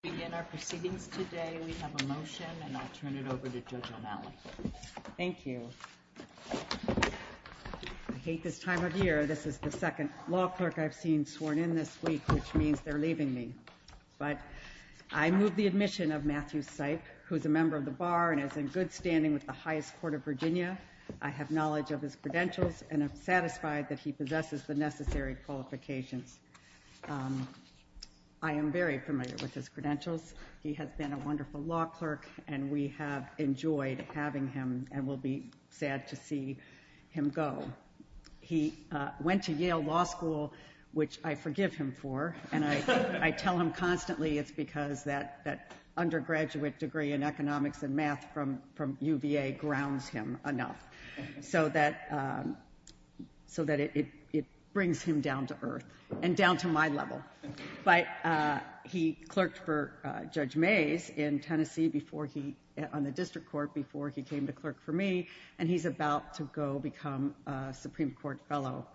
begin our proceedings today. We have a motion and I'll turn it over to Judge O'Malley. Thank you. I hate this time of year. This is the second law clerk I've seen sworn in this week, which means they're leaving me. But I move the admission of Matthew Seip, who's a member of the bar and is in good standing with the highest court of Virginia. I have knowledge of his credentials and I'm satisfied that he possesses the necessary qualifications. I am very familiar with his credentials. He has been a wonderful law clerk and we have enjoyed having him and will be sad to see him go. He went to Yale Law School, which I forgive him for, and I tell him constantly it's because that undergraduate degree in economics and math from UVA grounds him enough so that it brings him down to earth and down to my level. But he clerked for Judge Mays in Tennessee on the district court before he came to clerk for me, and he's about to go become a Supreme Court fellow.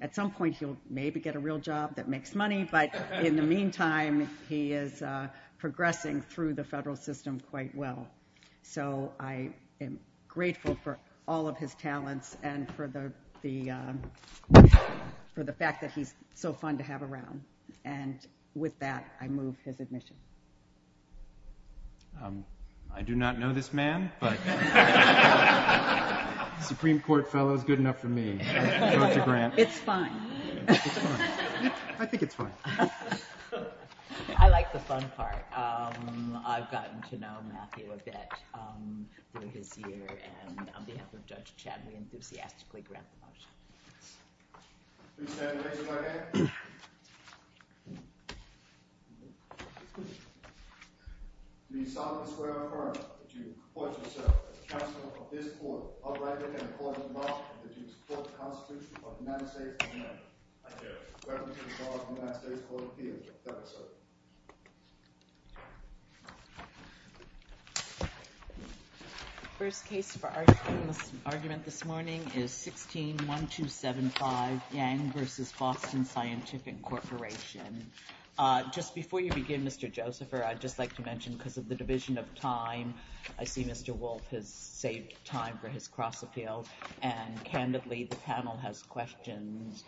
At some point, he'll maybe get a real job that makes money, but in the meantime, he is progressing through the federal system quite well. So I am grateful for all of his talents and for the fact that he's so fun to have around. And with that, I move his admission. I do not know this man, but Supreme Court fellow is good enough for me. It's fine. I think it's fine. I like the fun part. I've gotten to know Matthew a bit through his year, and on behalf of Judge Chad, we enthusiastically grant the motion. Please stand and raise your right hand. The Assembly of the Square Enforcement, would you report to us, sir, that the Chancellor of this Court, Albrecht Dicke, and the Court of the Bar, would you support the Constitution of the United States Court of Appeal? First case for argument this morning is 16-1275, Yang v. Boston Scientific Corporation. Just before you begin, Mr. Josepher, I'd just like to mention, because of the division of time, I see Mr. Wolfe has saved time for his cross appeal, and candidly, the panel has questions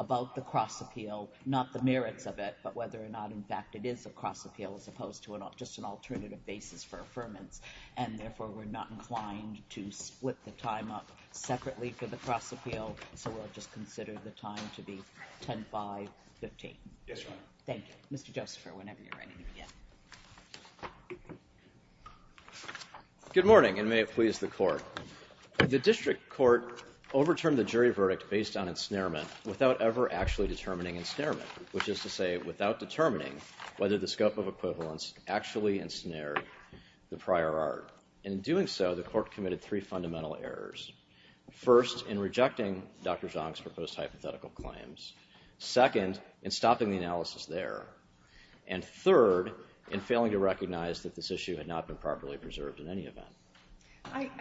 about the cross appeal, not the merits of it, but whether or not, in fact, it is a cross appeal as opposed to just an alternative basis for affirmance, and therefore, we're not inclined to split the time up separately for the cross appeal, so we'll just consider the time to be 10-5-15. Yes, Your Honor. Thank you. Mr. Josepher, whenever you're ready to begin. Good morning, and may it please the Court. The district court overturned the jury verdict based on ensnarement without ever actually determining ensnarement, which is to say, without determining whether the scope of equivalence actually ensnared the prior art. In doing so, the court committed three fundamental errors. First, in rejecting Dr. Zhang's proposed hypothetical claims. Second, in stopping the analysis there. And third, in failing to recognize that this issue had not been properly preserved in any event.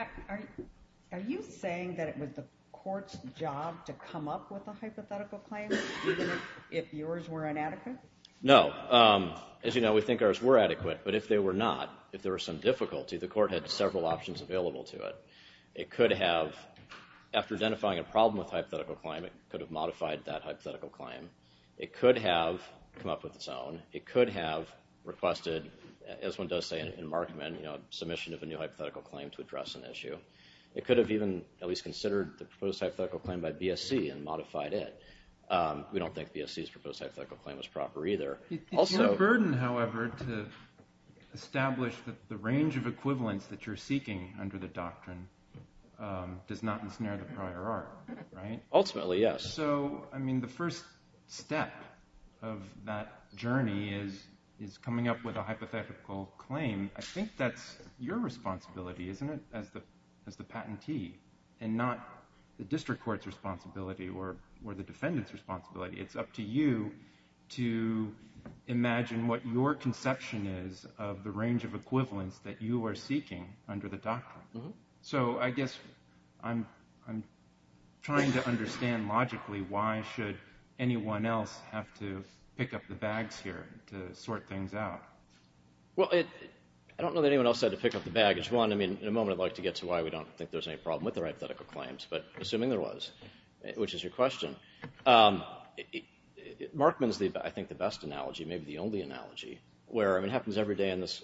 Are you saying that it was the court's job to come up with a hypothetical claim, even if yours were inadequate? No. As you know, we think ours were adequate, but if they were not, if there were some difficulty, the court had several options available to it. It could have, after identifying a problem with a hypothetical claim, it could have modified that hypothetical claim. It could have come up with its own. It could have requested, as one does say in Markman, submission of a new hypothetical claim to address an issue. It could have even at least considered the proposed hypothetical claim by BSC and modified it. We don't think BSC's proposed hypothetical claim was proper either. It's your burden, however, to establish that the range of equivalence that you're seeking under the doctrine does not ensnare the prior art, right? Ultimately, yes. So, I mean, the first step of that journey is coming up with a hypothetical claim. I think that's your responsibility, isn't it, as the patentee, and not the district court's responsibility or the defendant's responsibility. It's up to you to imagine what your conception is of the range of equivalence that you are seeking under the doctrine. So, I guess I'm trying to understand logically why should anyone else have to pick up the bags here to sort things out? Well, I don't know that anyone else had to pick up the baggage. One, I mean, in a moment I'd like to get to why we don't think there's any problem with the hypothetical claims, but assuming there was, which is your question, Markman's, I think, the best analogy, maybe the only analogy, where it happens every day in this,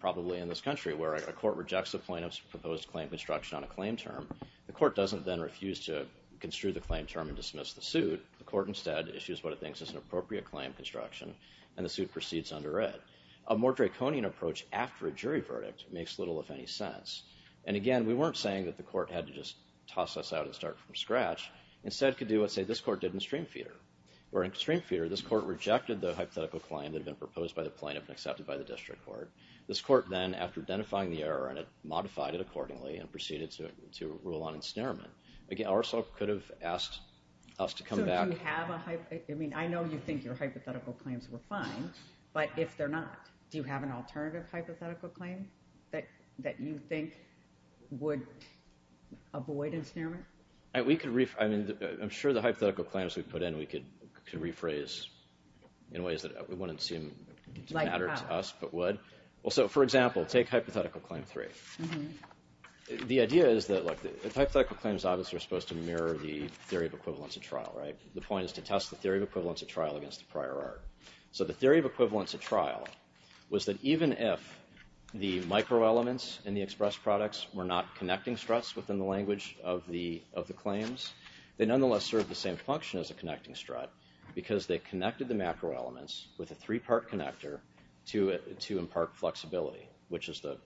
probably in this country, where a court rejects a plaintiff's proposed claim construction on a claim term. The court doesn't then refuse to construe the claim term and dismiss the suit. The court instead issues what it thinks is an appropriate claim construction, and the suit proceeds under it. A more draconian approach after a jury verdict makes little, if any, sense. And again, we weren't saying that the court had to just toss us out and start from scratch. Instead, it could do what, say, this court did in Streamfeeder, where in Streamfeeder, this court rejected the hypothetical claim that had been proposed by the plaintiff and accepted by the district court. This court then, after identifying the error in it, modified it accordingly and proceeded to rule on ensnarement. Again, ourselves could have asked us to come back. I mean, I know you think your hypothetical claims were fine, but if they're not, do you have an alternative hypothetical claim that you think would avoid ensnarement? I'm sure the hypothetical claims we put in, we could rephrase in ways that wouldn't seem to matter to us, but would. So, for example, take hypothetical claim three. The idea is that, look, the hypothetical claims obviously are supposed to mirror the theory of equivalence at trial, right? The point is to test the theory of equivalence at trial against the prior art. So the theory of equivalence at trial was that even if the microelements in the expressed products were not connecting struts within the language of the claims, they nonetheless serve the same function as a connecting strut because they connected the macroelements with a three-part connector to impart flexibility, which is the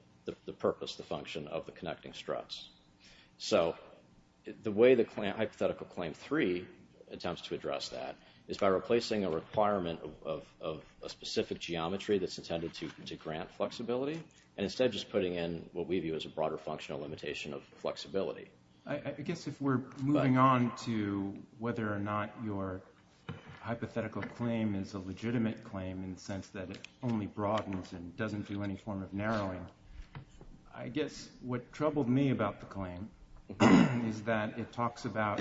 purpose, the function of the connecting struts. So the way the hypothetical claim three attempts to address that is by replacing a requirement of a specific geometry that's intended to grant flexibility, and instead just putting in what we view as a broader functional limitation of flexibility. I guess if we're moving on to whether or not your hypothetical claim is a legitimate claim in the sense that it only broadens and doesn't do any form of narrowing, I guess what troubled me about the claim is that it talks about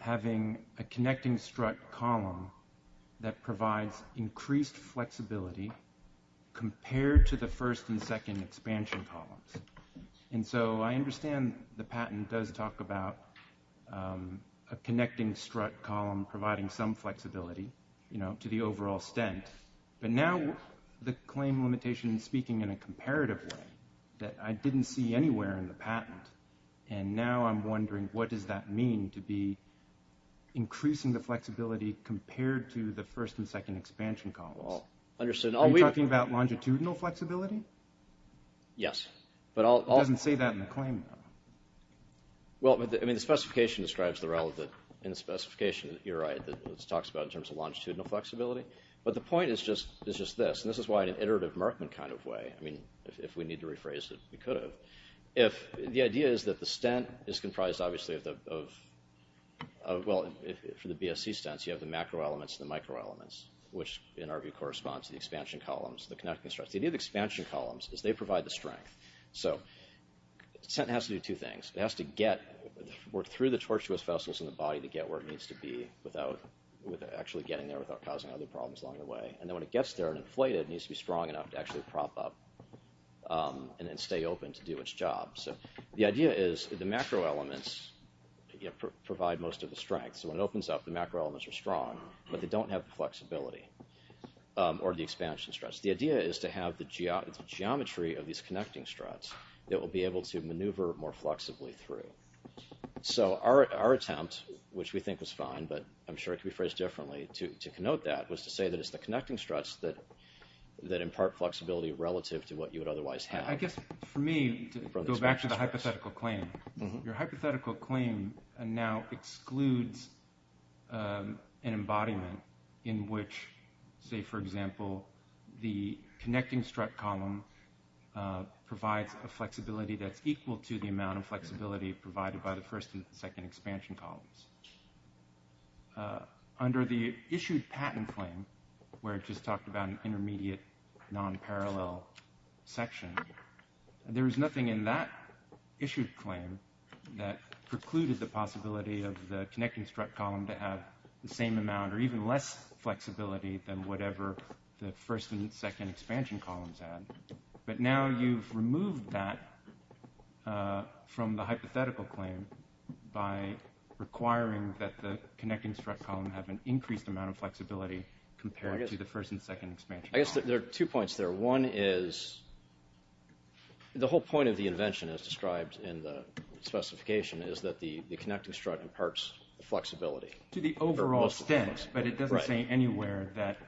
having a connecting strut column that provides increased flexibility compared to the first and second expansion columns. And so I understand the patent does talk about a connecting strut column providing some flexibility, you know, to the overall stent, but now the claim limitation is speaking in a comparative way that I didn't see anywhere in the patent, and now I'm wondering what does that mean to be increasing the flexibility compared to the first and second expansion columns? Well, understood. Are you talking about longitudinal flexibility? Yes, but I'll... It doesn't say that in the claim, though. Well, I mean, the specification describes the relevant... In the specification, you're right, it talks about in terms of longitudinal flexibility, but the point is just this, and this is why in an iterative Merkman kind of way, I mean, if we need to rephrase it, we could have. The idea is that the stent is comprised obviously of... Well, for the BSC stents, you have the macro elements and the micro elements, which in our view corresponds to the expansion columns, the connecting struts. The idea of expansion columns is they provide the strength. So the stent has to do two things. It has to get through the tortuous vessels in the body to get where it needs to be without actually getting there without causing other problems along the way. And then when it gets there and inflated, it needs to be strong enough to actually prop up and then stay open to do its job. So the idea is the macro elements provide most of the strength. So when it opens up, the macro elements are strong, but they don't have the flexibility or the expansion struts. The idea is to have the geometry of these connecting struts that will be able to maneuver more flexibly through. So our attempt, which we think was fine, but I'm sure it could be phrased differently to connote that, was to say that it's the connecting struts that impart flexibility relative to what you would otherwise have. I guess for me, to go back to the hypothetical claim, your hypothetical claim now excludes an embodiment in which, say for example, the connecting strut column provides a flexibility that's equal to the amount of flexibility provided by the first and second expansion columns. Under the issued patent claim, where it just talked about an intermediate non-parallel section, there is nothing in that issued claim that precluded the possibility of the connecting strut column to have the same amount or even less flexibility than whatever the first and second expansion columns had. But now you've removed that from the hypothetical claim by requiring that the connecting strut column have an increased amount of flexibility compared to the first and second expansion column. I guess there are two points there. One is the whole point of the invention, as described in the specification, is that the connecting strut imparts flexibility. To the overall extent, but it doesn't say anywhere that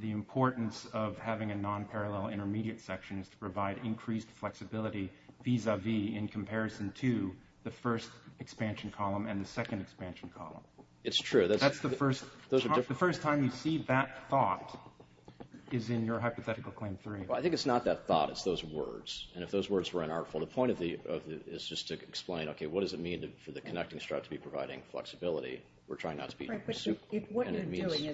the importance of having a non-parallel intermediate section is to provide increased flexibility vis-a-vis, in comparison to the first expansion column and the second expansion column. It's true. That's the first time you see that thought is in your hypothetical claim three. Well, I think it's not that thought. It's those words. And if those words were unartful, the point of it is just to explain, okay, what does it mean for the connecting strut to be providing flexibility? We're trying not to be... Right, but what you're doing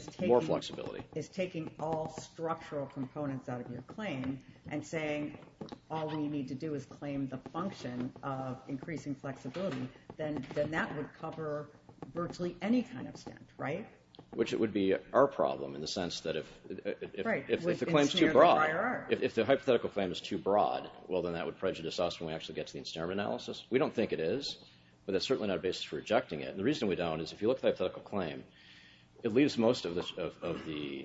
is taking all structural components out of your claim and saying, all we need to do is claim the function of increasing flexibility, then that would cover virtually any kind of step, right? Which it would be our problem, in the sense that if the claim's too broad, if the hypothetical claim is too broad, well, then that would prejudice us when we actually get to the incinerative analysis. We don't think it is, but that's certainly not a basis for rejecting it. And the reason we don't is, if you look at the hypothetical claim, it leaves most of the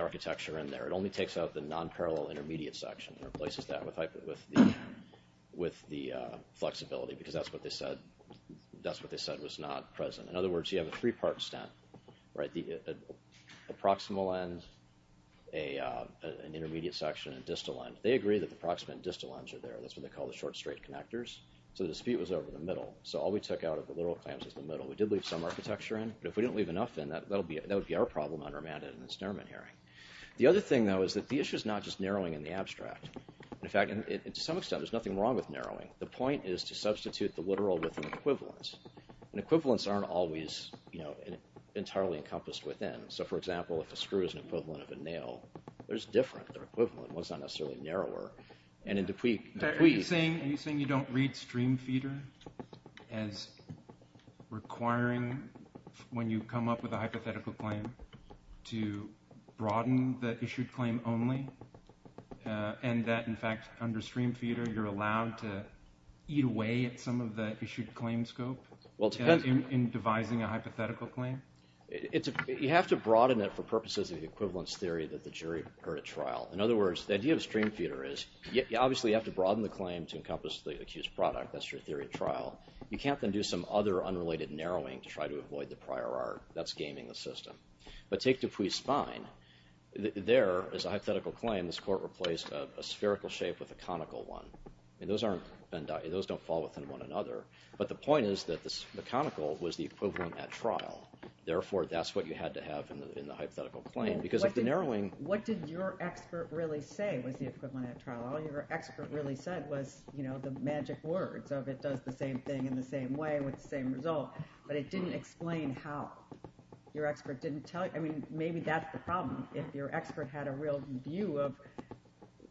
architecture in there. It only takes out the non-parallel intermediate section and replaces that with the flexibility, because that's what they said was not present. In other words, you have a three-part stent, right? The proximal end, an intermediate section, and distal end, they agree that the proximal and distal ends are there. That's what they call the short straight connectors. So the dispute was over the middle. So all we took out of the literal claims is the middle. We did leave some architecture in, but if we didn't leave enough in, that would be our problem, unremanded incinerament herring. The other thing, though, is that the issue is not just narrowing in the abstract. In fact, to some extent, there's nothing wrong with narrowing. The point is to substitute the literal with an equivalence. And equivalence aren't always entirely encompassed within. So for example, if a screw is an equivalent of a nail, they're different. They're equivalent. One's not necessarily narrower. And in DuPuis... Are you saying you don't read stream feeder as requiring, when you come up with a hypothetical claim, to broaden the issued claim only, and that, in fact, under stream feeder, you're allowed to eat away at some of the issued claim scope in devising a hypothetical claim? You have to broaden it for purposes of the equivalence theory that the jury heard at trial. In other words, the idea of stream feeder is, you obviously have to broaden the claim to encompass the accused product. That's your theory of trial. You can't then do some other unrelated narrowing to try to avoid the prior art. That's gaming the system. But take DuPuis Spine. There, as a hypothetical claim, this court replaced a spherical shape with a conical one. And those don't fall within one another. But the point is that the conical was the equivalent at trial. Therefore, that's what you had to have in the hypothetical claim. Because if the narrowing... What did your expert really say was the equivalent at trial? All your expert really said was, you know, the magic words of it does the same thing in the same way with the same result. But it didn't explain how your expert didn't tell you. Maybe that's the problem. If your expert had a real view of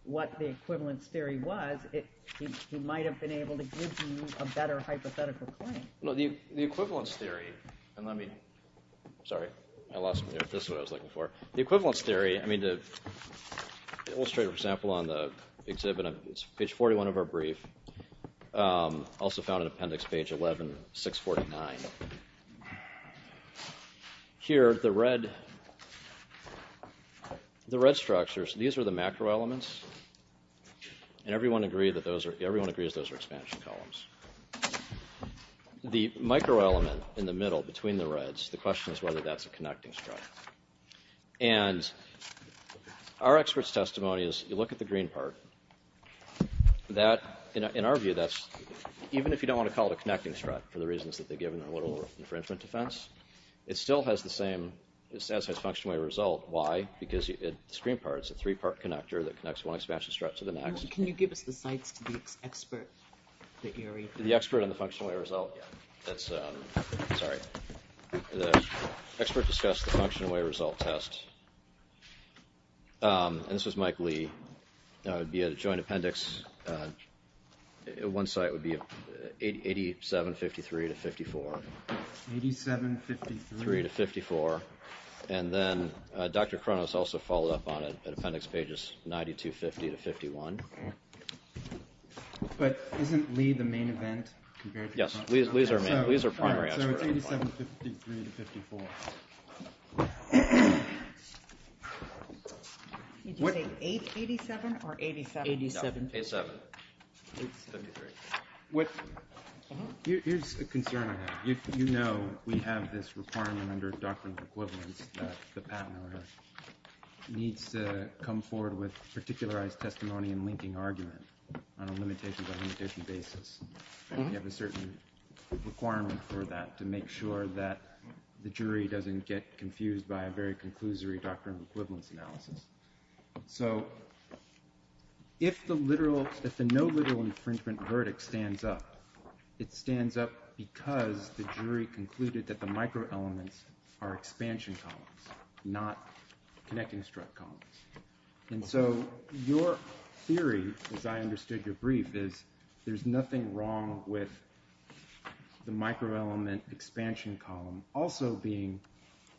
what the equivalence theory was, he might have been able to give you a better hypothetical claim. No, the equivalence theory... And let me... Sorry, I lost... This is what I was looking for. The equivalence theory... I mean, the illustrator, for example, on the exhibit, it's page 41 of our brief, also found in appendix page 11, 649. And here, the red structures, these are the macro elements. And everyone agrees those are expansion columns. The micro element in the middle between the reds, the question is whether that's a connecting strut. And our expert's testimony is, you look at the green part, that in our view, that's even if you don't want to call it a connecting strut for the reasons that they've given infringement defense, it still has the same... It still has functional way result. Why? Because the screen part is a three-part connector that connects one expansion strut to the next. Can you give us the sites to the expert that you're... The expert on the functional way result? Yeah, that's... Sorry, the expert discussed the functional way result test. And this was Mike Lee. That would be a joint appendix. One site would be 87, 53 to 54. 87, 53 to 54. And then Dr. Kronos also followed up on it at appendix pages 92, 50 to 51. But isn't Lee the main event? Compared to... Yes, Lee's our main... Lee's our primary expert. So it's 87, 53 to 54. Did you say 8, 87 or 87? 87. 87, 53. Here's a concern on that. If you know we have this requirement under doctrinal equivalence that the patent order needs to come forward with particularized testimony and linking argument on a limitation by limitation basis, we have a certain requirement for that to make sure that the jury doesn't get confused by a very conclusory doctrinal equivalence analysis. So if the literal... If the no literal infringement verdict stands up, it stands up because the jury concluded that the micro elements are expansion columns, not connecting strut columns. And so your theory, as I understood your brief, is there's nothing wrong with the micro element expansion column also being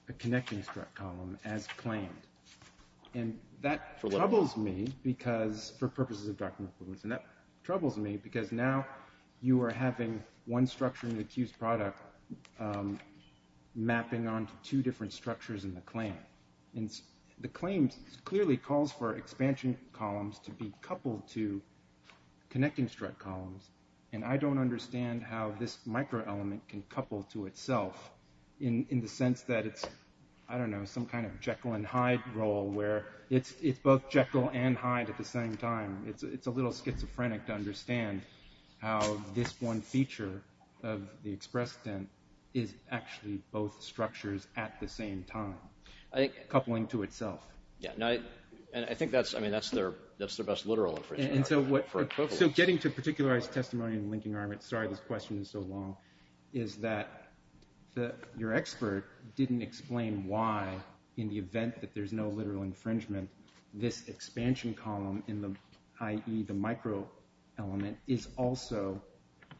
a connecting strut column as claimed. And that troubles me because for purposes of doctrinal equivalence. And that troubles me because now you are having one structure in the accused product mapping onto two different structures in the claim. And the claims clearly calls for expansion columns to be coupled to connecting strut columns. And I don't understand how this micro element can couple to itself in the sense that it's, I don't know, some kind of Jekyll and Hyde role where it's both Jekyll and Hyde at the same time. It's a little schizophrenic to understand how this one feature of the expressed stent is actually both structures at the same time. Coupling to itself. Yeah, and I think that's, I mean, that's their, that's their best literal infringement. And so what, so getting to particularized testimony and linking arguments, sorry this question is so long, is that your expert didn't explain why in the event that there's no literal infringement, this expansion column in the, i.e. the micro element is also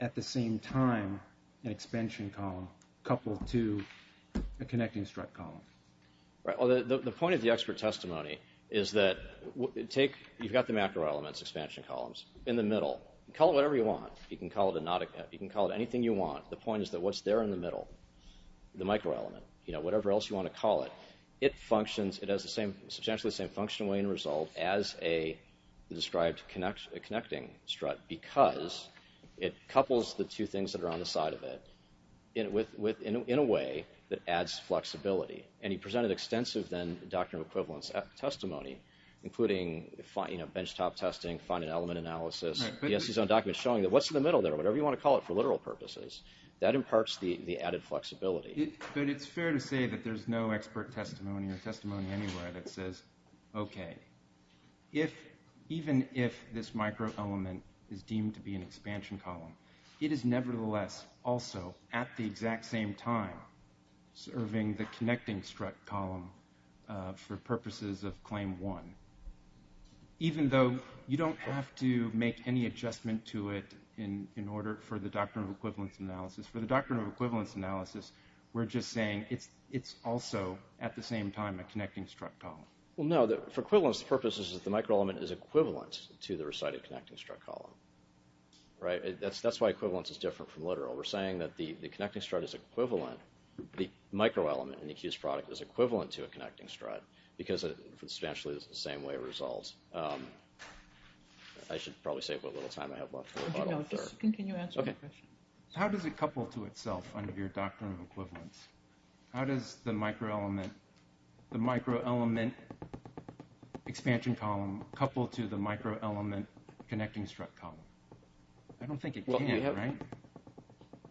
at the same time an expansion column coupled to a connecting strut column. Right, well the point of the expert testimony is that take, you've got the macro elements expansion columns in the middle. Call it whatever you want. You can call it a not, you can call it anything you want. The point is that what's there in the middle, the micro element, you know, whatever else you want to call it, it functions, it has the same, substantially the same functional way and result as a described connect, a connecting strut because it couples the two things that are on the side of it in a way that adds flexibility. And he presented extensive then doctrinal equivalence testimony, including, you know, benchtop testing, find an element analysis, he has his own documents showing that what's in the middle there, whatever you want to call it for literal purposes, that imparts the added flexibility. But it's fair to say that there's no expert testimony or testimony anywhere that says, okay, if, even if this micro element is deemed to be an expansion column, it is nevertheless also at the exact same time serving the connecting strut column for purposes of claim one. Even though you don't have to make any adjustment to it in order for the doctrine of equivalence analysis, for the doctrine of equivalence analysis, we're just saying it's also at the same time a connecting strut column. Well, no, for equivalence purposes, the micro element is equivalent to the recited connecting strut column, right? That's why equivalence is different from literal. We're saying that the connecting strut is equivalent, the micro element in the accused product is equivalent to a connecting strut because it substantially is the same way it resolves. I should probably say what little time I have left. Can you answer my question? How does it couple to itself under your doctrine of equivalence? How does the micro element, the micro element expansion column couple to the micro element connecting strut column? I don't think it can, right?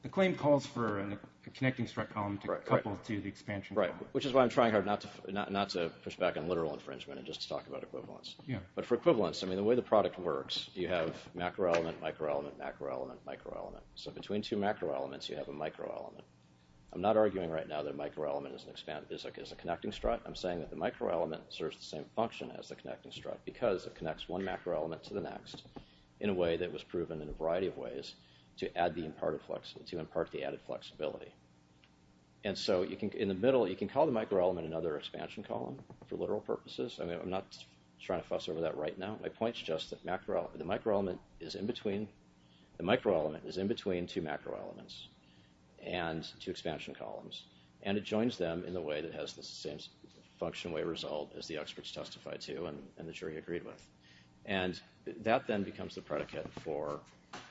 The claim calls for a connecting strut column to couple to the expansion. Right, which is why I'm trying hard not to push back on literal infringement and just to talk about equivalence. But for equivalence, I mean, the way the product works, you have macro element, micro element, macro element, micro element. So between two macro elements, you have a micro element. I'm not arguing right now that micro element is a connecting strut. I'm saying that the micro element serves the same function as the connecting strut because it connects one macro element to the next in a way that was proven in a variety of ways to impart the added flexibility. And so in the middle, you can call the micro element another expansion column for literal purposes. I mean, I'm not trying to fuss over that right now. My point's just that macro, the micro element is in between, the micro element is in between two macro elements and two expansion columns. And it joins them in the way that has the same function way result as the experts testify to and the jury agreed with. And that then becomes the predicate for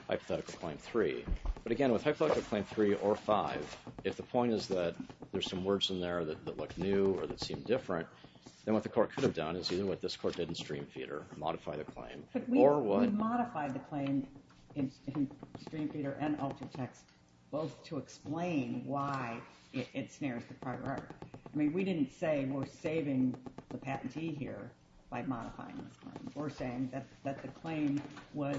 hypothetical claim three. But again, with hypothetical claim three or five, if the point is that there's some words in there that look new or that seem different, then what the court could have done is either what this court did in Streamfeeder, modify the claim, or what- We modified the claim in Streamfeeder and Ultratext both to explain why it snares the product. I mean, we didn't say we're saving the patentee here, by modifying the claim. We're saying that the claim was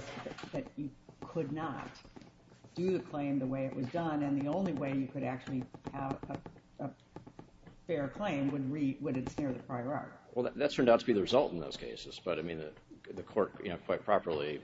that you could not do the claim the way it was done and the only way you could actually have a fair claim would it snare the prior article. Well, that turned out to be the result in those cases. But I mean, the court, you know, quite properly,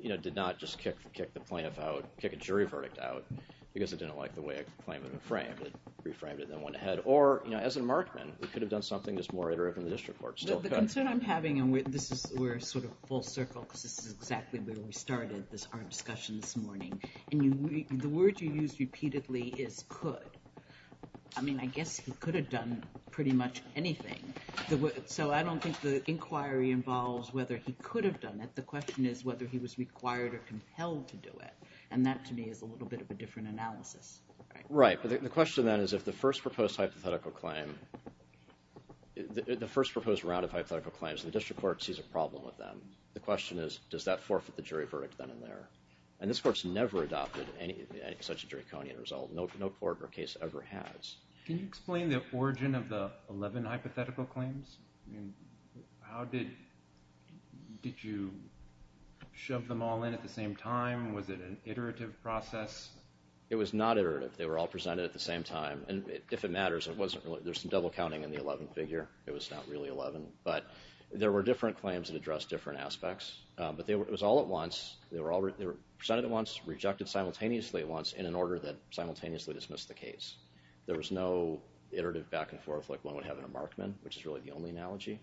you know, did not just kick the plaintiff out, kick a jury verdict out because it didn't like the way a claim had been framed. It reframed it and then went ahead. Or, you know, as a markman, we could have done something that's more iterative in the district court still. The concern I'm having, and we're sort of full circle because this is exactly where we started our discussion this morning. And the word you use repeatedly is could. I mean, I guess he could have done pretty much anything. So I don't think the inquiry involves whether he could have done it. The question is whether he was required or compelled to do it. And that to me is a little bit of a different analysis. Right. But the question then is if the first proposed hypothetical claim, the first proposed round of hypothetical claims, the district court sees a problem with them. The question is, does that forfeit the jury verdict then and there? And this court's never adopted any such a draconian result. No court or case ever has. Can you explain the origin of the 11 hypothetical claims? How did, did you shove them all in at the same time? Was it an iterative process? It was not iterative. They were all presented at the same time. And if it matters, it wasn't really, there's some double counting in the 11 figure. It was not really 11, but there were different claims that address different aspects. But they were, it was all at once. They were all presented at once, rejected simultaneously at once in an order that simultaneously dismissed the case. There was no iterative back and forth like one would have in a Markman, which is really the only analogy.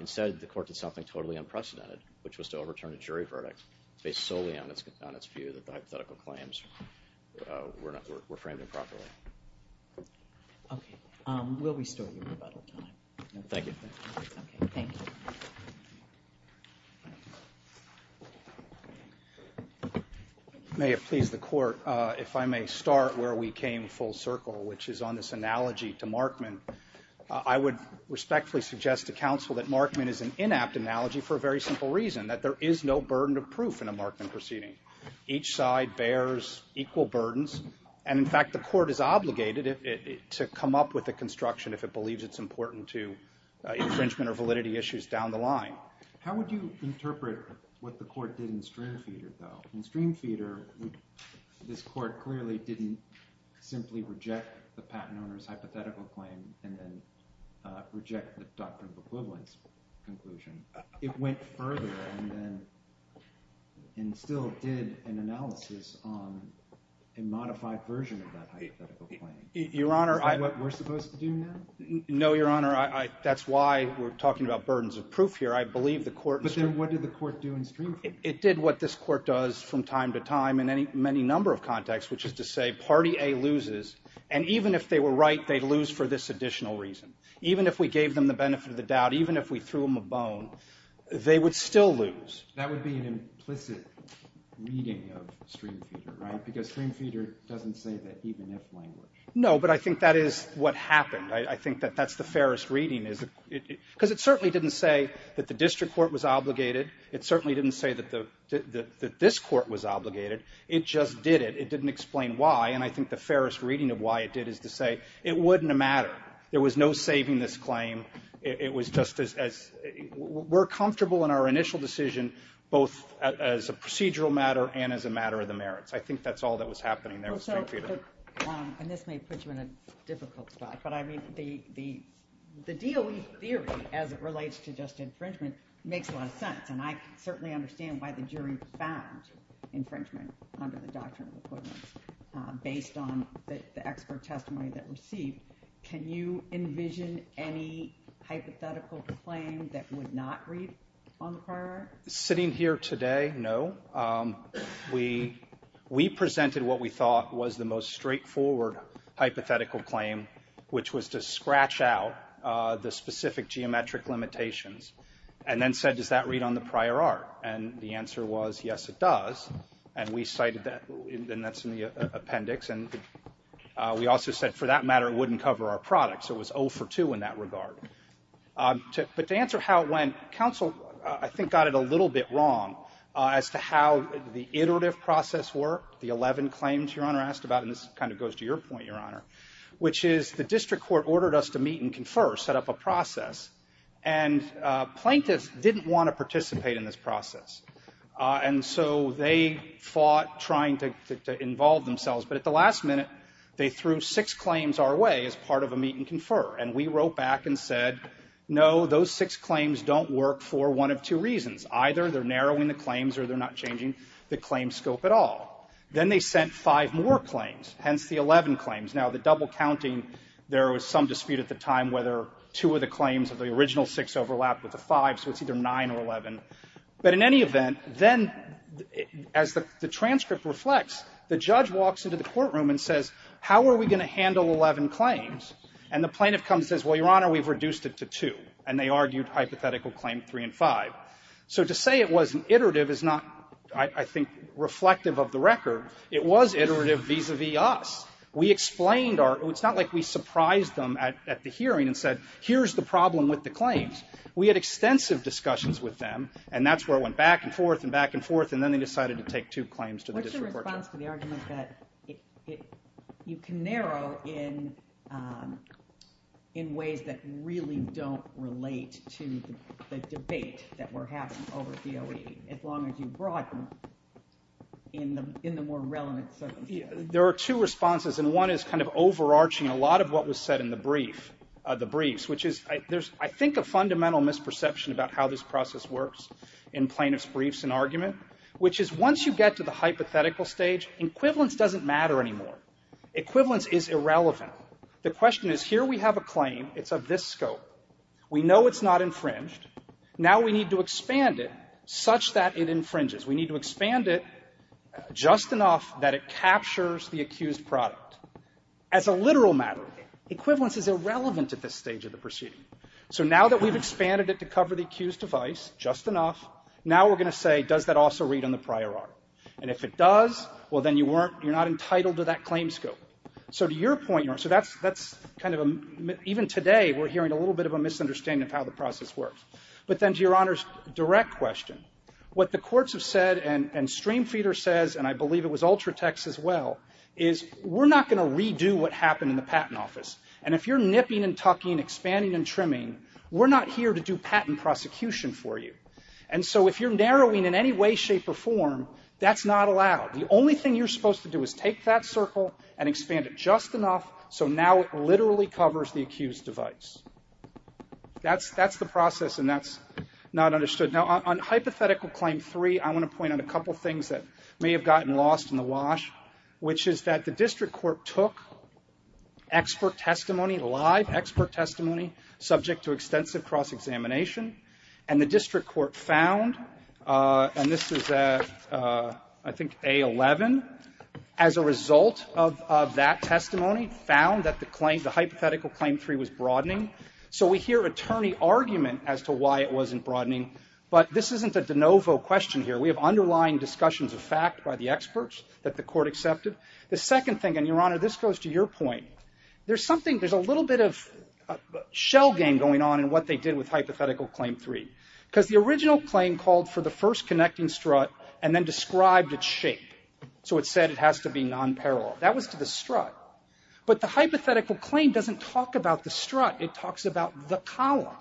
Instead, the court did something totally unprecedented, which was to overturn a jury verdict based solely on its view that the hypothetical claims were framed improperly. Okay. We'll restore your rebuttal. Thank you. May it please the court, if I may start where we came full circle, which is on this analogy to Markman. I would respectfully suggest to counsel that Markman is an inapt analogy for a very simple reason, that there is no burden of proof in a Markman proceeding. Each side bears equal burdens. And in fact, the court is obligated, to come up with a construction if it believes it's important to infringement or validity issues down the line. How would you interpret what the court did in Streamfeeder though? In Streamfeeder, this court clearly didn't simply reject the patent owner's hypothetical claim and then reject the doctrine of equivalence conclusion. It went further and then, and still did an analysis on a modified version of that hypothetical claim. Your Honor, Is that what we're supposed to do now? No, Your Honor. That's why we're talking about burdens of proof here. I believe the court, But then what did the court do in Streamfeeder? It did what this court does from time to time in any many number of contexts, which is to say party A loses. And even if they were right, they lose for this additional reason. Even if we gave them the benefit of the doubt, even if we threw them a bone, they would still lose. That would be an implicit reading of Streamfeeder, right? Because Streamfeeder doesn't say that even if language. No, but I think that is what happened. I think that that's the fairest reading. Because it certainly didn't say that the district court was obligated. It certainly didn't say that this court was obligated. It just did it. It didn't explain why. And I think the fairest reading of why it did is to say it wouldn't matter. There was no saving this claim. It was just as we're comfortable in our initial decision, both as a procedural matter and as a matter of the merits. I think that's all that was happening there. So, and this may put you in a difficult spot, but I mean, the DOE theory as it relates to just infringement makes a lot of sense. And I certainly understand why the jury found infringement under the Doctrine of Equivalence based on the expert testimony that we received. Can you envision any hypothetical claim that would not read on the prior? Sitting here today, no. We presented what we thought was the most straightforward hypothetical claim, which was to scratch out the specific geometric limitations and then said, does that read on the prior art? And the answer was, yes, it does. And we cited that. And that's in the appendix. And we also said for that matter, it wouldn't cover our products. It was 0 for 2 in that regard. But to answer how it went, counsel, I think, got it a little bit wrong as to how the iterative process worked. The 11 claims Your Honor asked about, and this kind of goes to your point, Your Honor, which is the district court ordered us to meet and confer, set up a process. And plaintiffs didn't want to participate in this process. And so they fought trying to involve themselves. But at the last minute, they threw six claims our way as part of a meet and confer. And we wrote back and said, no, those six claims don't work for one of two reasons. Either they're narrowing the claims or they're not changing the claim scope at all. Then they sent five more claims, hence the 11 claims. Now, the double counting, there was some dispute at the time whether two of the claims of the original six overlapped with the five. So it's either nine or 11. But in any event, then as the transcript reflects, the judge walks into the courtroom and says, how are we going to handle 11 claims? And the plaintiff comes and says, well, Your Honor, we've reduced it to two. And they argued hypothetical claim three and five. So to say it was an iterative is not, I think, reflective of the record. It was iterative vis-a-vis us. We explained our, it's not like we surprised them at the hearing and said, here's the problem with the claims. We had extensive discussions with them. And that's where it went back and forth and back and forth. And then they decided to take two claims to the district court. What's your response to the argument that you can narrow in ways that really don't relate to the debate that we're having over DOE, as long as you broaden in the more relevant circumstances? There are two responses. And one is kind of overarching a lot of what was said in the brief, the briefs, which is, there's, I think, a fundamental misperception about how this process works in plaintiff's briefs and argument, which is once you get to the hypothetical stage, equivalence doesn't matter anymore. Equivalence is irrelevant. The question is, here we have a claim. It's of this scope. We know it's not infringed. Now we need to expand it such that it infringes. We need to expand it just enough that it captures the accused product. As a literal matter, equivalence is irrelevant at this stage of the proceeding. So now that we've expanded it to cover the accused device just enough, now we're going to say, does that also read on the prior article? And if it does, well, then you weren't, you're not entitled to that claim scope. So to your point, Your Honor, so that's, that's kind of, even today, we're hearing a little bit of a misunderstanding of how the process works. But then to Your Honor's direct question, what the courts have said, and Streamfeeder says, and I believe it was Ultratex as well, is we're not going to redo what happened in the patent office. And if you're nipping and tucking, expanding and trimming, we're not here to do patent prosecution for you. And so if you're narrowing in any way, shape or form, that's not allowed. The only thing you're supposed to do is take that circle and expand it just enough. So now it literally covers the accused device. That's, that's the process. And that's not understood. Now, on hypothetical claim three, I want to point out a couple of things that may have gotten lost in the wash, which is that the district court took expert testimony, live expert testimony, subject to extensive cross-examination. And the district court found, and this is, I think, A11, as a result of that testimony, found that the claim, the hypothetical claim three was broadening. So we hear attorney argument as to why it wasn't broadening but this isn't a de novo question here. We have underlying discussions of fact by the experts that the court accepted. The second thing, and your honor, this goes to your point. There's something, there's a little bit of shell game going on in what they did with hypothetical claim three. Because the original claim called for the first connecting strut and then described its shape. So it said it has to be non-parallel. That was to the strut. But the hypothetical claim doesn't talk about the strut. It talks about the column.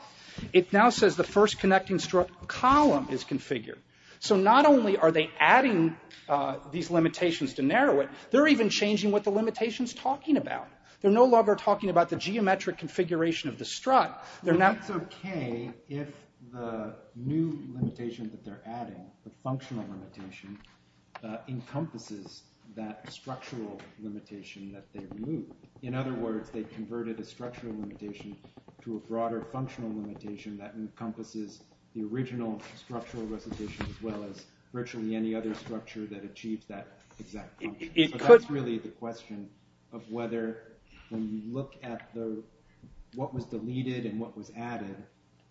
It now says the first connecting strut column is configured. So not only are they adding these limitations to narrow it, they're even changing what the limitation's talking about. They're no longer talking about the geometric configuration of the strut. They're now... It's okay if the new limitation that they're adding, the functional limitation, encompasses that structural limitation that they removed. In other words, they converted a structural limitation to a broader functional limitation that encompasses the original structural resolution as well as virtually any other structure that achieved that exact function. So that's really the question of whether when you look at what was deleted and what was added,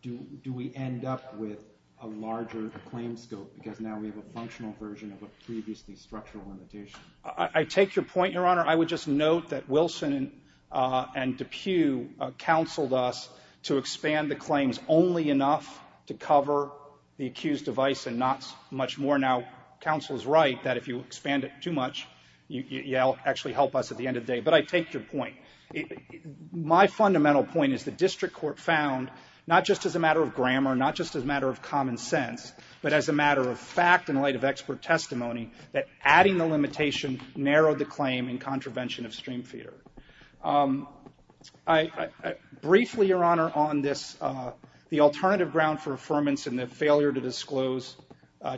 do we end up with a larger claim scope? Because now we have a functional version of a previously structural limitation. I take your point, Your Honor. I would just note that Wilson and DePue counseled us to expand the claims enough to cover the accused device and not much more. Now, counsel is right that if you expand it too much, you'll actually help us at the end of the day. But I take your point. My fundamental point is the district court found not just as a matter of grammar, not just as a matter of common sense, but as a matter of fact in light of expert testimony that adding the limitation narrowed the claim in contravention of stream feeder. I briefly, Your Honor, on this, the alternative ground for affirmance and the failure to disclose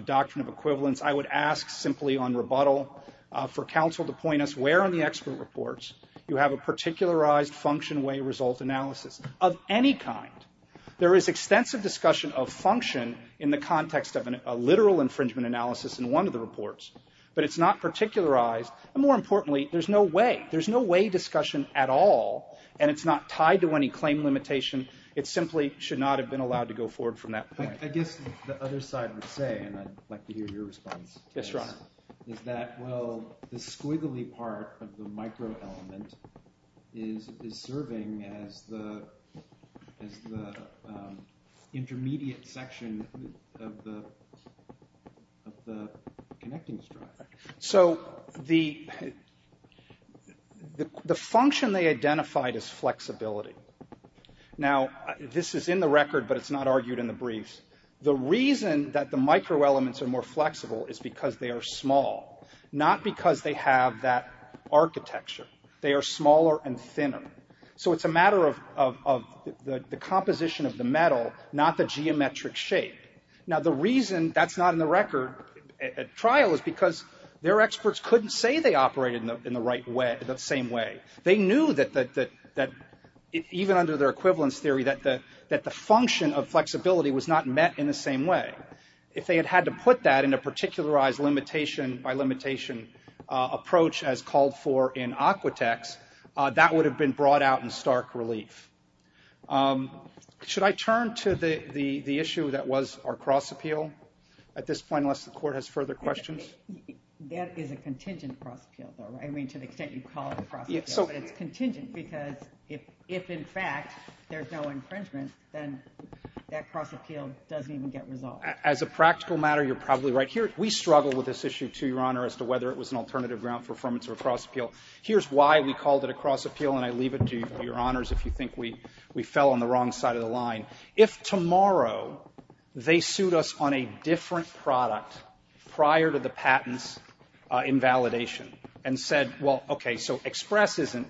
doctrine of equivalence, I would ask simply on rebuttal for counsel to point us where on the expert reports you have a particularized function way result analysis of any kind. There is extensive discussion of function in the context of a literal infringement analysis in one of the reports, but it's not particularized. And more importantly, there's no way discussion at all, and it's not tied to any claim limitation. It simply should not have been allowed to go forward from that point. I guess the other side would say, and I'd like to hear your response. Yes, Your Honor. Is that, well, the squiggly part of the micro element is serving as the intermediate section of the connecting structure. So the function they identified is flexibility. Now, this is in the record, but it's not argued in the briefs. The reason that the micro elements are more flexible is because they are small, not because they have that architecture. They are smaller and thinner. So it's a matter of the composition of the metal, not the geometric shape. Now, the reason that's not in the record trial is because their experts couldn't say they operated in the right way, the same way. They knew that even under their equivalence theory, that the function of flexibility was not met in the same way. If they had had to put that in a particularized limitation by limitation approach, as called for in Aquatex, that would have been brought out in stark relief. Should I turn to the issue that was our cross appeal at this point, unless the court has further questions? That is a contingent cross appeal, though, right? I mean, to the extent you call it a cross appeal, but it's contingent because if, in fact, there's no infringement, then that cross appeal doesn't even get resolved. As a practical matter, you're probably right here. We struggle with this issue, too, Your Honor, as to whether it was an alternative ground for affirmance or a cross appeal. Here's why we called it a cross appeal, and I leave it to Your Honors if you think we fell on the wrong side of the line. If tomorrow, they sued us on a different product prior to the patent's invalidation and said, well, okay, so Express isn't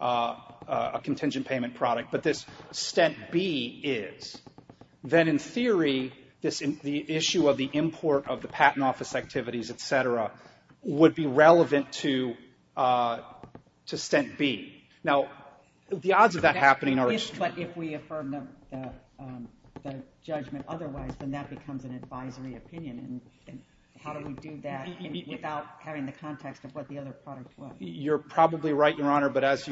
a contingent payment product, but this Stent B is, then in theory, the issue of the import of the patent office activities, et cetera, would be relevant to Stent B. Now, the odds of that happening are extreme. If we affirm the judgment otherwise, then that becomes an advisory opinion. How do we do that without having the context of what the other product was? You're probably right, Your Honor, but as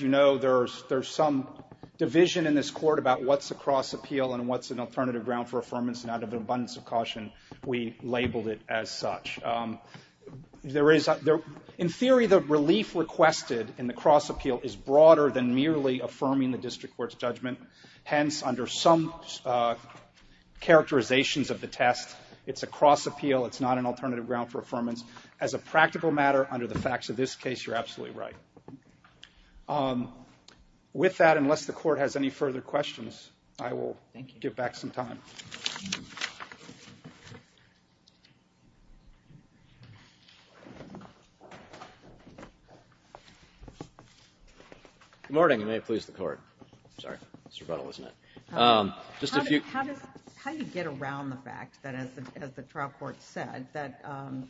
you know, there's some division in this court about what's a cross appeal and what's an alternative ground for affirmance, and out of an abundance of caution, we labeled it as such. In theory, the relief requested in the cross appeal is broader than merely affirming the district court's judgment. Hence, under some characterizations of the test, it's a cross appeal. It's not an alternative ground for affirmance. As a practical matter, under the facts of this case, you're absolutely right. With that, unless the court has any further questions, I will give back some time. Good morning. You may please the court. It's rebuttal, isn't it? How do you get around the fact that, as the trial court said, that on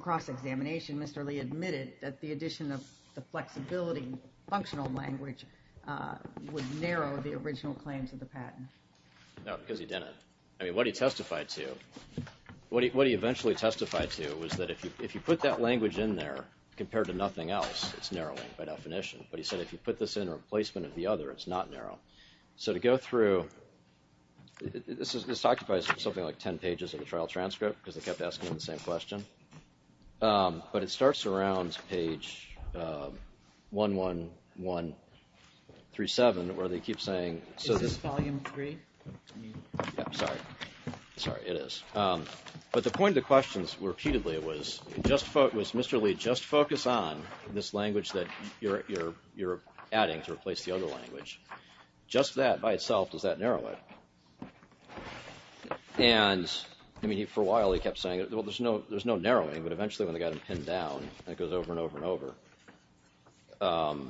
cross examination, Mr. Lee admitted that the addition of the flexibility functional language would narrow the original claims of the patent? No, because he didn't. I mean, what he testified to, what he eventually testified to was that if you put that language in there compared to nothing else, it's narrowing by definition. But he said if you put this in replacement of the other, it's not narrow. So to go through, this is this occupies something like 10 pages of the trial transcript because they kept asking him the same question. But it starts around page 11137, where they keep saying. Is this volume three? Yeah, I'm sorry. Sorry, it is. But the point of the questions repeatedly was, was Mr. Lee just focus on this language that you're adding to replace the other language? Just that by itself, does that narrow it? And I mean, for a while, he kept saying, well, there's no there's no narrowing, but eventually when they got him pinned down, it goes over and over and over.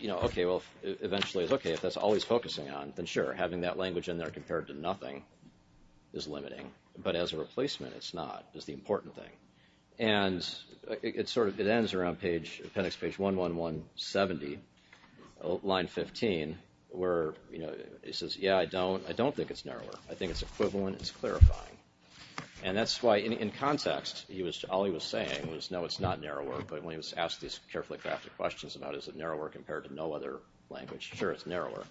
You know, OK, well, eventually it's OK if that's always focusing on, then sure, having that language in there compared to nothing is limiting. But as a replacement, it's not is the important thing. And it's sort of it ends around page appendix page 11170, line 15, where, you know, he says, yeah, I don't I don't think it's narrower. I think it's equivalent. It's clarifying. And that's why in context, he was all he was saying was, no, it's not narrower. But when he was asked these carefully crafted questions about is it narrower compared to no other language? Sure, it's narrower,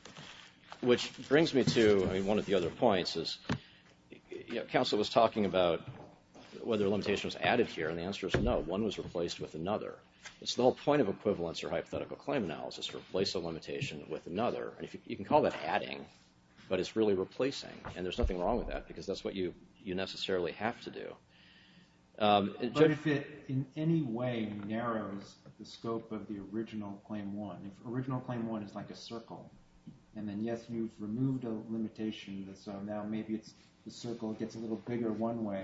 which brings me to I mean, one of the other points is counsel was talking about whether limitation was added here. And the answer is no. One was replaced with another. It's the whole point of equivalence or hypothetical claim analysis replace a limitation with another. And if you can call that adding, but it's really replacing. And there's nothing wrong with that because that's what you you necessarily have to do. But if it in any way narrows the scope of the original claim, one original claim, one is like a circle. And then, yes, you've removed a limitation. So now maybe it's the circle gets a little bigger one way.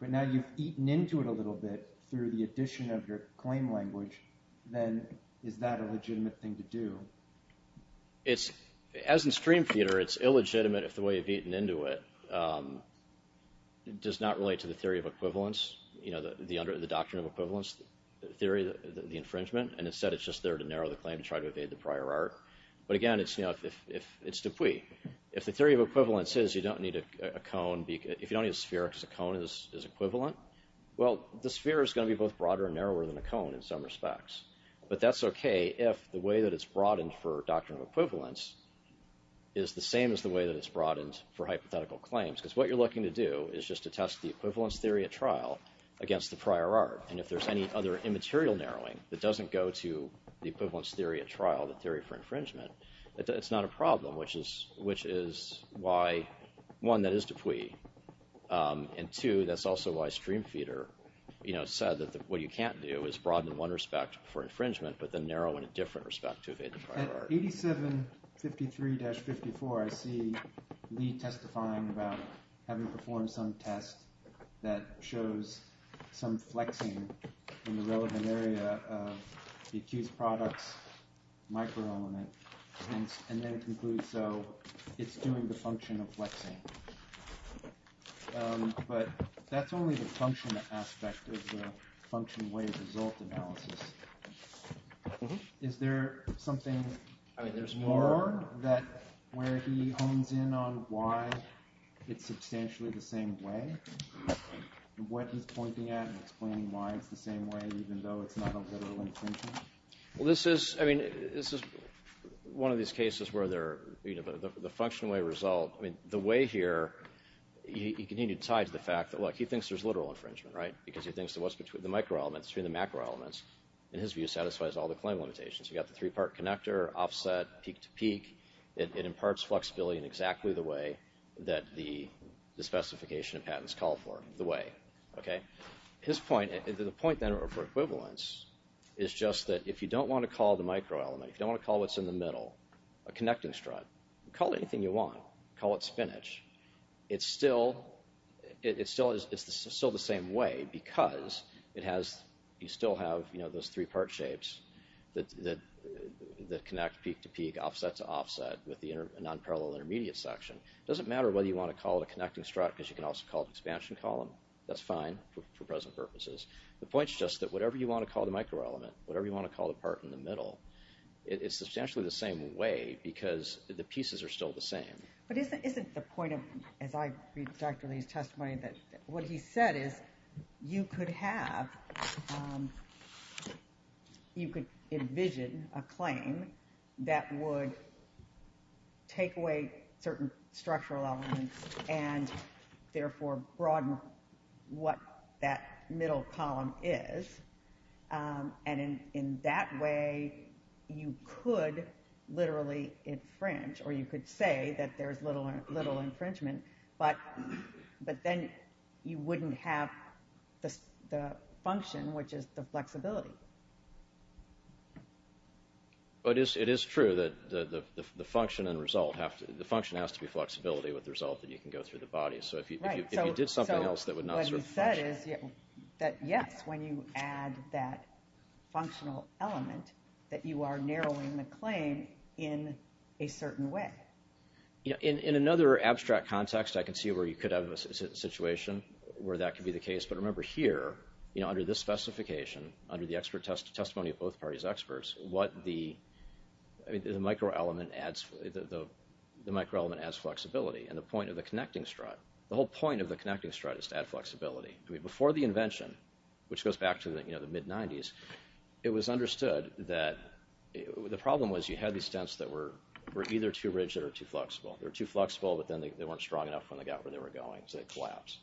But now you've eaten into it a little bit through the addition of your claim language. Then is that a legitimate thing to do? It's as in stream feeder, it's illegitimate if the way you've eaten into it does not relate to the theory of equivalence, you know, the doctrine of equivalence theory, the infringement. And instead, it's just there to narrow the claim to try to evade the prior art. But again, it's, you know, if it's the way if the theory of equivalence is you don't need a cone. If you don't need a sphere because a cone is equivalent. Well, the sphere is going to be both broader and narrower than a cone in some respects. But that's OK. If the way that it's broadened for doctrine of equivalence is the same as the way that it's broadened for hypothetical claims, because what you're looking to do is just to test the equivalence theory at trial against the prior art. And if there's any other immaterial narrowing that doesn't go to the equivalence theory at trial, the theory for infringement, that it's not a problem, which is which is why one, that is de Puy. And two, that's also why stream feeder, you know, said that what you can't do is broaden one respect for infringement, but then narrow in a different respect to evade the prior art. At 8753-54, I see Lee testifying about having performed some test that shows some flexing in the relevant area of the accused products micro element and then conclude. So it's doing the function of flexing. But that's only the function aspect of the function way result analysis. Is there something that where he hones in on why it's substantially the same way, what he's pointing at and explaining why it's the same way, even though it's not a literal infringement? Well, this is, I mean, this is one of these cases where they're, you know, the function way result, I mean, the way here, he continued to tie to the fact that, look, he thinks there's a literal infringement, right? Because he thinks that what's between the micro elements between the macro elements and his view satisfies all the claim limitations. You got the three part connector offset peak to peak. It imparts flexibility in exactly the way that the specification of patents call for the way. OK, his point, the point then for equivalence is just that if you don't want to call the micro element, if you don't want to call what's in the middle, a connecting strut, call it anything you want, call it spinach. It's still, it still is, it's still the same way because it has, you still have, you know, those three part shapes that connect peak to peak, offset to offset with the non-parallel intermediate section. It doesn't matter whether you want to call it a connecting strut because you can also call it expansion column. That's fine for present purposes. The point's just that whatever you want to call the micro element, whatever you want to call the part in the middle, it is substantially the same way because the pieces are still the same. But isn't the point of, as I read Dr. Lee's testimony, what he said is you could have, you could envision a claim that would take away certain structural elements and therefore broaden what that middle column is. And in that way, you could literally infringe, or you could say that there's little infringement, but then you wouldn't have the function, which is the flexibility. But it is true that the function and result have to, the function has to be flexibility with the result that you can go through the body. So if you did something else that would not serve the function. So what he said is that yes, when you add that functional element, that you are narrowing the claim in a certain way. In another abstract context, I can see where you could have a situation where that could be the case. But remember here, under this specification, under the expert testimony of both parties' experts, what the micro element adds, the micro element adds flexibility. And the point of the connecting strut, the whole point of the connecting strut is to add flexibility. I mean, before the invention, which goes back to the mid-90s, it was understood that the problem was you had these stents that were either too rigid or too flexible. They were too flexible, but then they weren't strong enough when they got where they were going. So they collapse.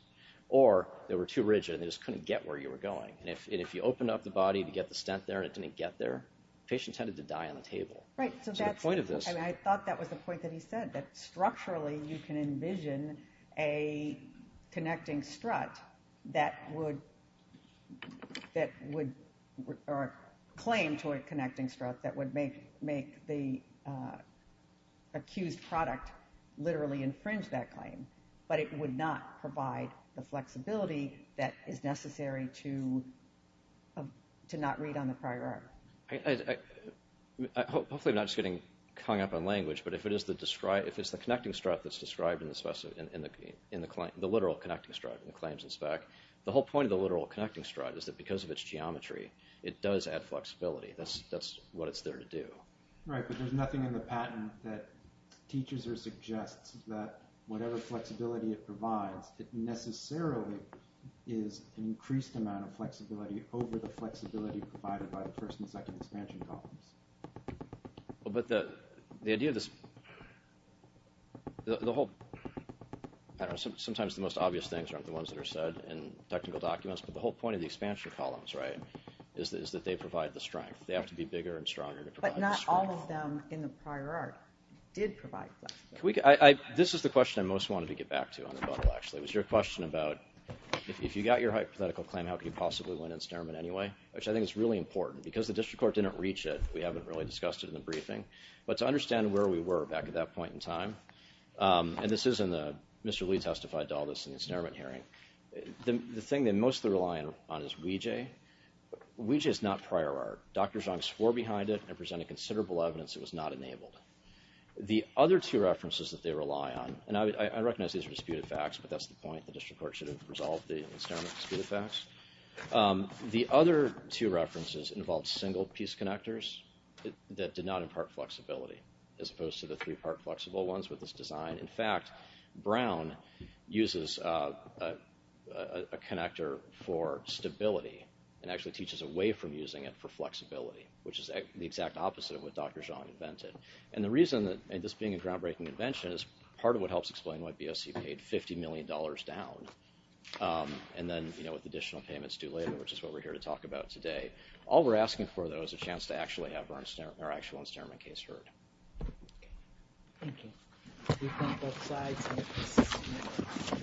Or they were too rigid and they just couldn't get where you were going. And if you opened up the body to get the stent there and it didn't get there, patients tended to die on the table. Right. So that's the point of this. I thought that was the point that he said, that structurally, you can envision a connecting strut that would, that would claim to a connecting strut that would make the accused product literally infringe that claim, but it would not provide the flexibility that is necessary to not read on the prior art. Hopefully I'm not just getting hung up on language, but if it is the described, if it's the connecting strut that's described in the spec, in the claim, the literal connecting strut in the claims in spec, the whole point of the literal connecting strut is that because of its geometry, it does add flexibility. That's what it's there to do. Right. But there's nothing in the patent that teaches or suggests that whatever flexibility it provides, it necessarily is an increased amount of flexibility over the flexibility provided by the first and second expansion columns. But the idea of this, the whole, I don't know, sometimes the most obvious things aren't the ones that are said in technical documents, but the whole point of the expansion columns, right, is that they provide the strength. They have to be bigger But not all of them in the prior art did provide flexibility. This is the question I most wanted to get back to on rebuttal, actually. It was your question about if you got your hypothetical claim, how could you possibly win incinerament anyway, which I think is really important because the district court didn't reach it. We haven't really discussed it in the briefing, but to understand where we were back at that point in time, and this is in the, Mr. Lee testified to all this in the incinerament hearing, the thing that I mostly rely on is WeeJay. WeeJay is not prior art. Dr. Zhang swore behind it and presented considerable evidence it was not enabled. The other two references that they rely on, and I recognize these are disputed facts, but that's the point. The district court should have resolved the incinerament disputed facts. The other two references involved single-piece connectors that did not impart flexibility, as opposed to the three-part flexible ones with this design. In fact, Brown uses a connector for stability and actually teaches a way from using it for flexibility, which is the exact opposite of what Dr. Zhang invented. And the reason that this being a groundbreaking invention is part of what helps explain what BOC paid $50 million down. And then, you know, with additional payments due later, which is what we're here to talk about today. All we're asking for, though, is a chance to actually have our actual incinerament case heard. Thank you.